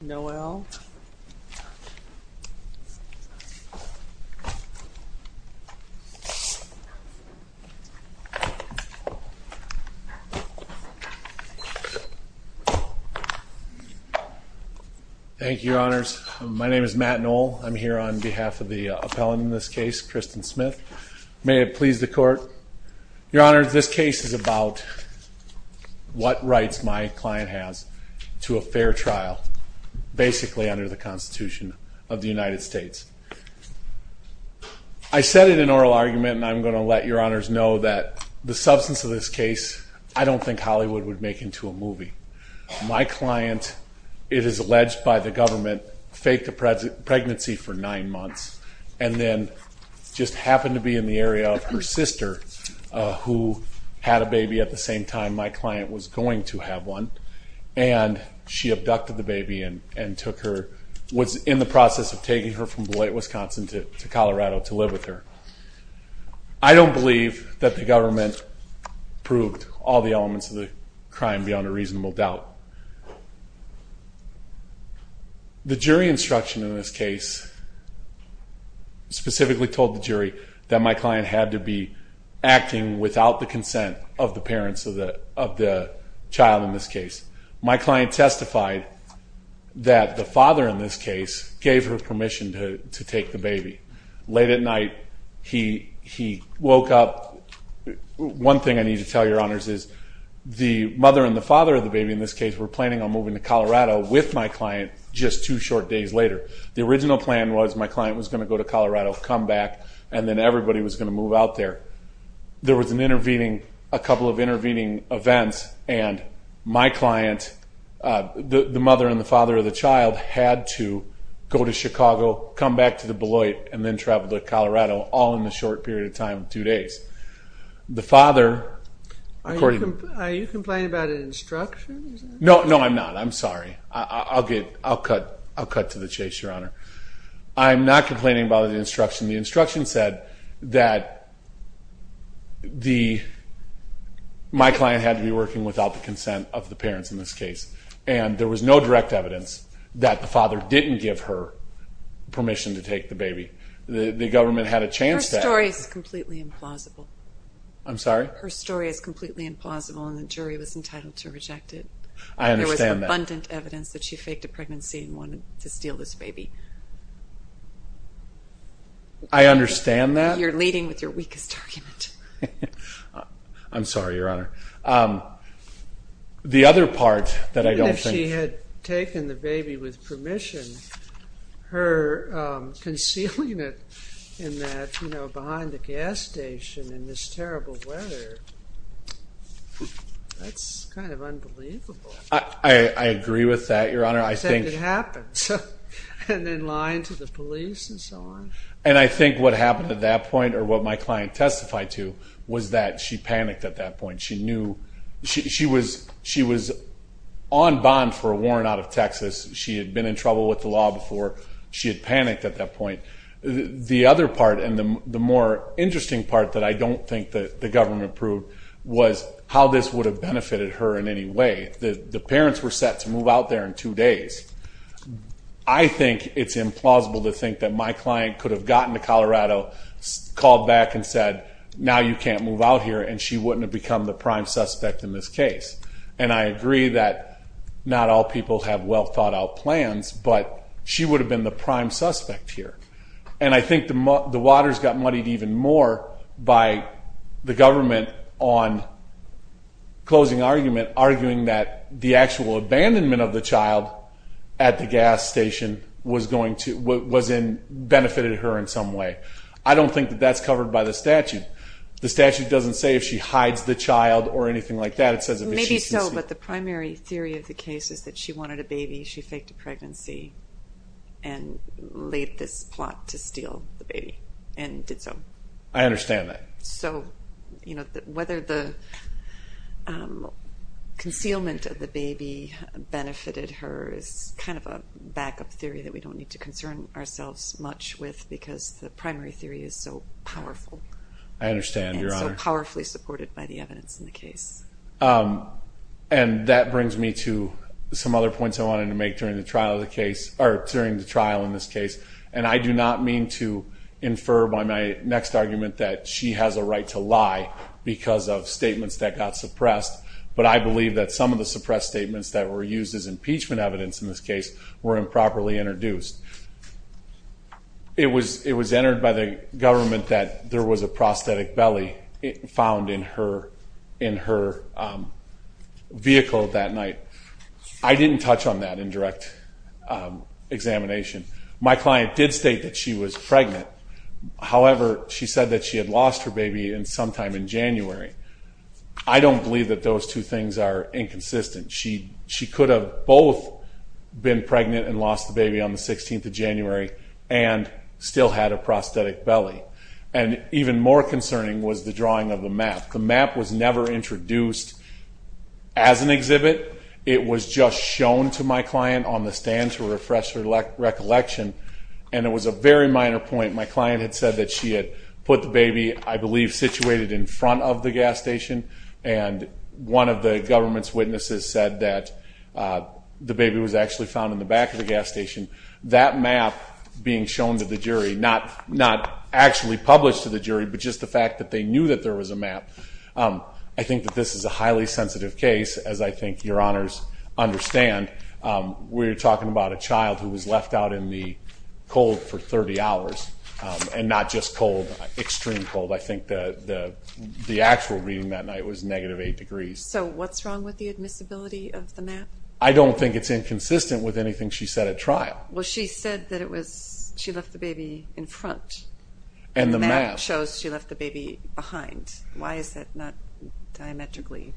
Noel thank you honors my name is Matt Noel I'm here on behalf of the appellant in this case Kristen Smith may it please the court your honors this case is about what rights my client has to a fair trial basically under the Constitution of the United States I said it in oral argument and I'm going to let your honors know that the substance of this case I don't think Hollywood would make into a movie my client it is alleged by the government faked a present pregnancy for nine months and then just happened to be in the area of her sister who had a baby at the same time my client was going to have one and she abducted the baby and and took her was in the process of taking her from the late Wisconsin to Colorado to live with her I don't believe that the government proved all the elements of the crime beyond a reasonable doubt the jury instruction in this case specifically told the jury that my client had to be acting without the consent of the parents of the of the child in this case my client testified that the father in this case gave her permission to take the baby late at night he he woke up one thing I need to tell your honors is the mother and the father of the baby in this case were planning on moving to Colorado with my client just two short days later the original plan was my client was going to go to Colorado come back and then everybody was going to move out there there was an intervening a couple of intervening events and my client the mother and the father of the child had to go to Chicago come back to the Beloit and then traveled to Colorado all in the short period of time two days the father no no I'm not I'm sorry I'll get I'll cut I'll cut to the chase your I'm not complaining about the instruction the instruction said that the my client had to be working without the consent of the parents in this case and there was no direct evidence that the father didn't give her permission to take the baby the government had a chance stories completely implausible I'm sorry her story is completely implausible and the jury was entitled to reject it I understand that evidence that she faked a pregnancy and wanted to I understand that you're leading with your weakest argument I'm sorry your honor the other part that I don't think she had taken the baby with permission her concealing it in that you know behind the gas station in this terrible I agree with that your honor I think it happens and then lying to the police and so on and I think what happened at that point or what my client testified to was that she panicked at that point she knew she was she was on bond for a warrant out of Texas she had been in trouble with the law before she had panicked at that point the other part and the more interesting part that I don't think that the government proved was how this would have benefited her in any way that the parents were set to move out there in two days I think it's implausible to think that my client could have gotten to Colorado called back and said now you can't move out here and she wouldn't have become the prime suspect in this case and I agree that not all people have well-thought-out plans but she would have been the prime suspect here and I think the water's got muddied even more by the government on closing argument arguing that the actual abandonment of the child at the gas station was going to what was in benefited her in some way I don't think that that's covered by the statute the statute doesn't say if she hides the child or anything like that it says maybe so but the primary theory of the case is that she wanted a baby she and did so I understand that so you know that whether the concealment of the baby benefited her is kind of a backup theory that we don't need to concern ourselves much with because the primary theory is so powerful I understand your honor powerfully supported by the evidence in the case and that brings me to some other points I wanted to make during the trial of the case or during the trial in this case and I do not mean to infer by my next argument that she has a right to lie because of statements that got suppressed but I believe that some of the suppressed statements that were used as impeachment evidence in this case were improperly introduced it was it was entered by the government that there was a prosthetic belly found in her in her vehicle that night I didn't touch on that in direct examination my client did state that she was pregnant however she said that she had lost her baby in sometime in January I don't believe that those two things are inconsistent she she could have both been pregnant and lost the baby on the 16th of January and still had a prosthetic belly and even more concerning was the drawing of the map the map was never introduced as an on the stand to refresh her recollection and it was a very minor point my client had said that she had put the baby I believe situated in front of the gas station and one of the government's witnesses said that the baby was actually found in the back of the gas station that map being shown to the jury not not actually published to the jury but just the fact that they knew that there was a map I think that this is a highly sensitive case as I understand we're talking about a child who was left out in the cold for 30 hours and not just cold extreme cold I think the the actual reading that night was negative eight degrees so what's wrong with the admissibility of the map I don't think it's inconsistent with anything she said at trial well she said that it was she left the baby in front and the map shows she left the baby behind why is that not diametrically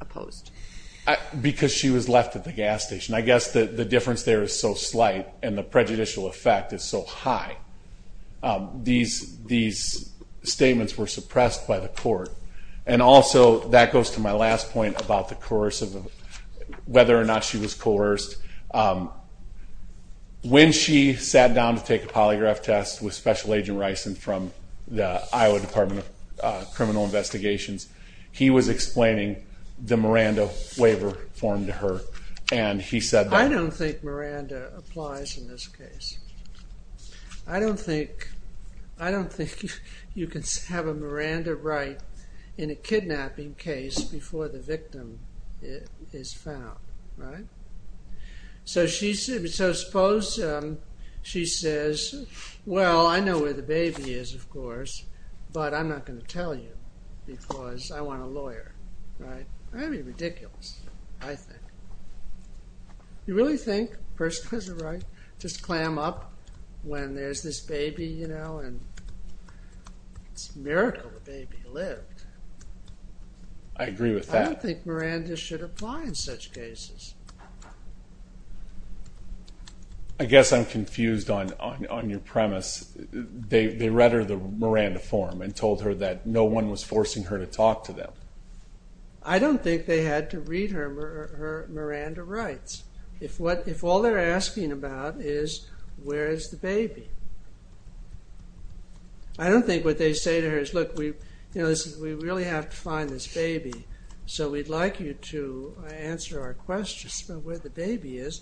opposed because she was left at the gas station I guess that the difference there is so slight and the prejudicial effect is so high these these statements were suppressed by the court and also that goes to my last point about the course of whether or not she was coerced when she sat down to take a polygraph test with special agent rice and from the Iowa Department of Criminal Investigations he was explaining the Miranda waiver form to her and he said I don't think Miranda applies in this case I don't think I don't think you can have a Miranda right in a kidnapping case before the victim is found right so she said so suppose she says well I know where the baby is of course but I'm not going to tell you because I want a lawyer right I mean ridiculous I think you really think person has a right just clam up when there's this baby you know and it's miracle the baby lived I agree with that I think Miranda should apply in such cases I guess I'm confused on on your premise they read her the Miranda form and told her that no one was forcing her to talk to them I don't think they had to read her Miranda rights if what if all they're asking about is where is the baby I don't think what they say to her is look we you know this is we really have to find this baby so we'd like you to answer our questions but where the baby is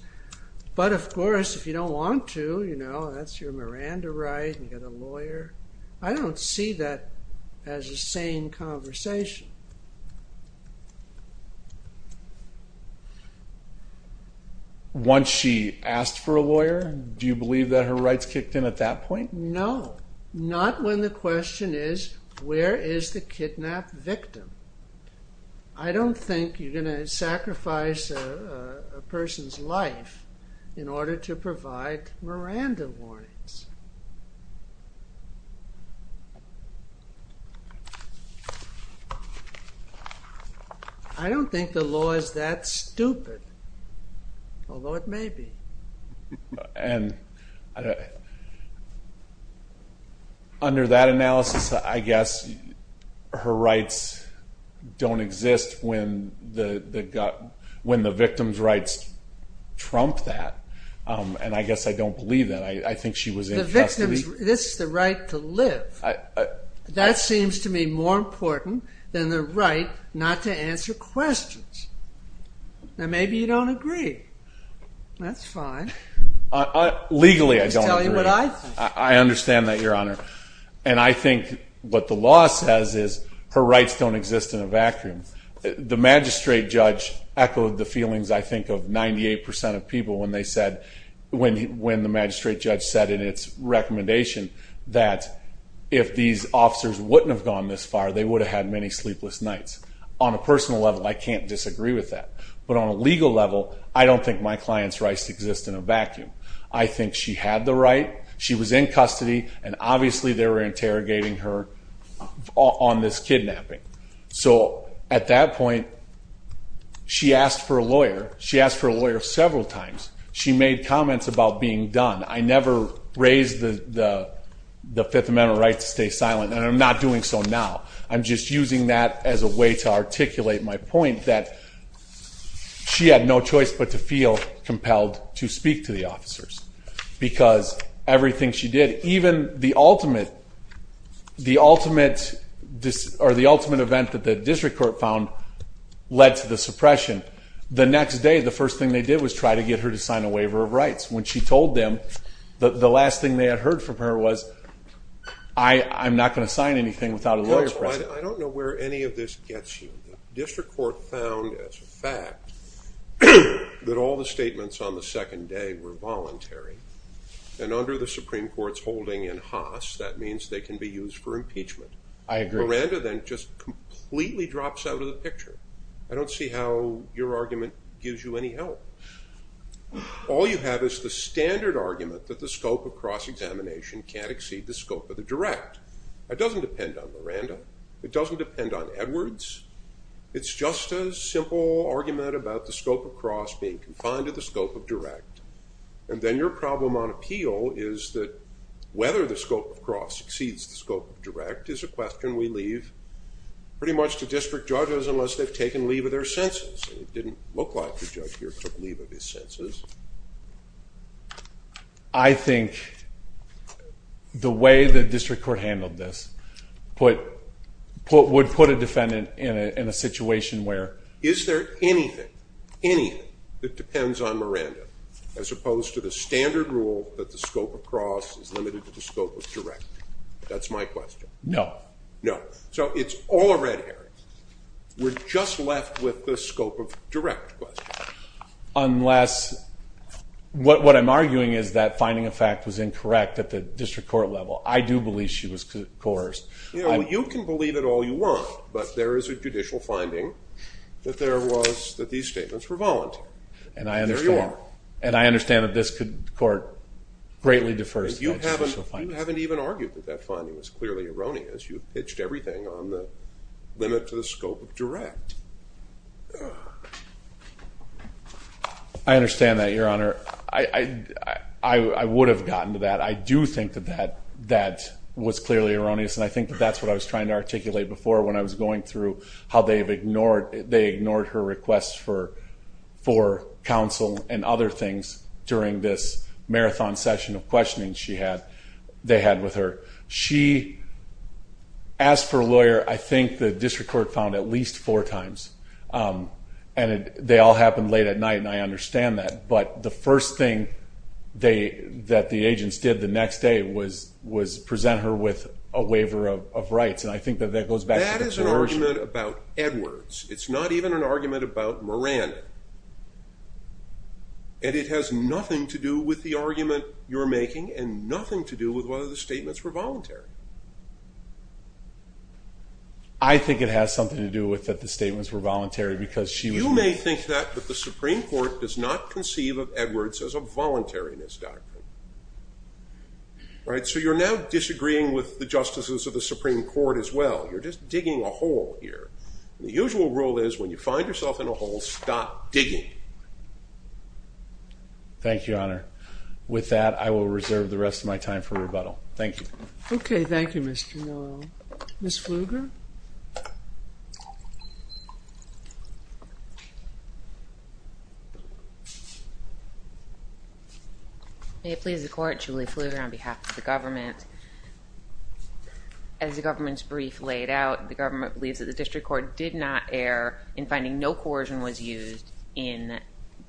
but of course if you don't want to you know that's your Miranda right and get a lawyer I don't see that as a sane conversation once she asked for a lawyer do you believe that her rights kicked in at that point no not when the victim I don't think you're gonna sacrifice a person's life in order to provide Miranda warnings I don't think the law is that stupid although it may and under that analysis I guess her rights don't exist when the gut when the victim's rights trump that and I guess I don't believe that I think she was this is the right to live that seems to me more important than the right not to legally I don't I understand that your honor and I think what the law says is her rights don't exist in a vacuum the magistrate judge echoed the feelings I think of 98% of people when they said when when the magistrate judge said in its recommendation that if these officers wouldn't have gone this far they would have had many sleepless nights on a personal level I can't with that but on a legal level I don't think my clients rights exist in a vacuum I think she had the right she was in custody and obviously they were interrogating her on this kidnapping so at that point she asked for a lawyer she asked for a lawyer several times she made comments about being done I never raised the the Fifth Amendment right to stay silent and I'm not doing so now I'm just using that as a way to articulate my point that she had no choice but to feel compelled to speak to the officers because everything she did even the ultimate the ultimate this or the ultimate event that the district court found led to the suppression the next day the first thing they did was try to get her to sign a waiver of rights when she told them the last thing they had from her was I I'm not going to sign anything without a lawyer I don't know where any of this gets you district court found as a fact that all the statements on the second day were voluntary and under the Supreme Court's holding in Haas that means they can be used for impeachment I agree Randa then just completely drops out of the picture I don't see how your argument gives you any help all you have is the standard argument that the scope of cross examination can't exceed the scope of the direct that doesn't depend on Miranda it doesn't depend on Edwards it's just a simple argument about the scope of cross being confined to the scope of direct and then your problem on appeal is that whether the scope of cross exceeds the scope of direct is a question we leave pretty much to district judges unless they've taken leave of their senses it didn't look like the judge here took leave of his I think the way the district court handled this put put would put a defendant in a situation where is there anything anything that depends on Miranda as opposed to the standard rule that the scope of cross is limited to the scope of direct that's my question no no so it's all a red herring we're just left with the scope of direct unless what what I'm arguing is that finding a fact was incorrect at the district court level I do believe she was coerced you know you can believe it all you want but there is a judicial finding that there was that these statements were voluntary and I understand and I understand that this could court greatly defers you haven't even argued that that finding was clearly erroneous you pitched everything on the limit to scope of direct I understand that your honor I I would have gotten to that I do think that that that was clearly erroneous and I think that that's what I was trying to articulate before when I was going through how they've ignored they ignored her requests for for counsel and other things during this marathon session of questioning she had they had with her she asked for a lawyer I think the district court found at least four times and they all happened late at night and I understand that but the first thing they that the agents did the next day was was present her with a waiver of rights and I think that that goes back to the floor about Edwards it's not even an argument about Moran and it has nothing to do with the argument you're making and nothing to do with the statements were voluntary I think it has something to do with that the statements were voluntary because she may think that the Supreme Court does not conceive of Edwards as a voluntariness doctor right so you're now disagreeing with the justices of the Supreme Court as well you're just digging a hole here the usual rule is when you find yourself in a hole stop digging thank you honor with that I will reserve the rest of my time for rebuttal thank you okay thank you mr. no miss fluger it pleases the court Julie fluger on behalf of the government as the government's brief laid out the government believes that the district court did not err in finding no coercion was used in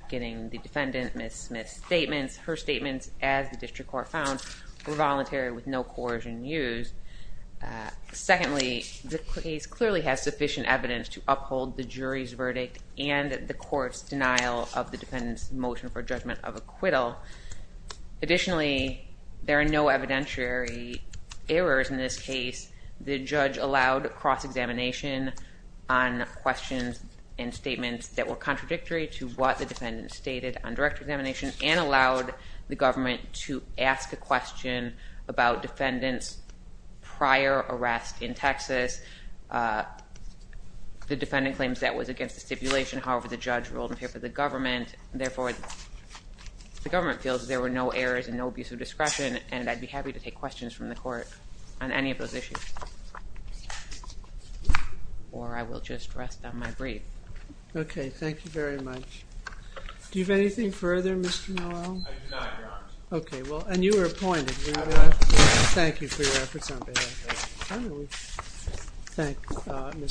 getting the defendant miss statements her statements as the district court found were voluntary with no coercion used secondly the case clearly has sufficient evidence to uphold the jury's verdict and the courts denial of the defendants motion for judgment of acquittal additionally there are no evidentiary errors in this case the judge allowed cross-examination on questions and statements that were and allowed the government to ask a question about defendants prior arrest in Texas the defendant claims that was against the stipulation however the judge ruled in favor of the government therefore the government feels there were no errors and no abuse of discretion and I'd be happy to take questions from the court on any of those issues or I will just rest on my brief okay thank you very much do you have anything further mr. no okay well and you were appointed thank you for your efforts on behalf thank you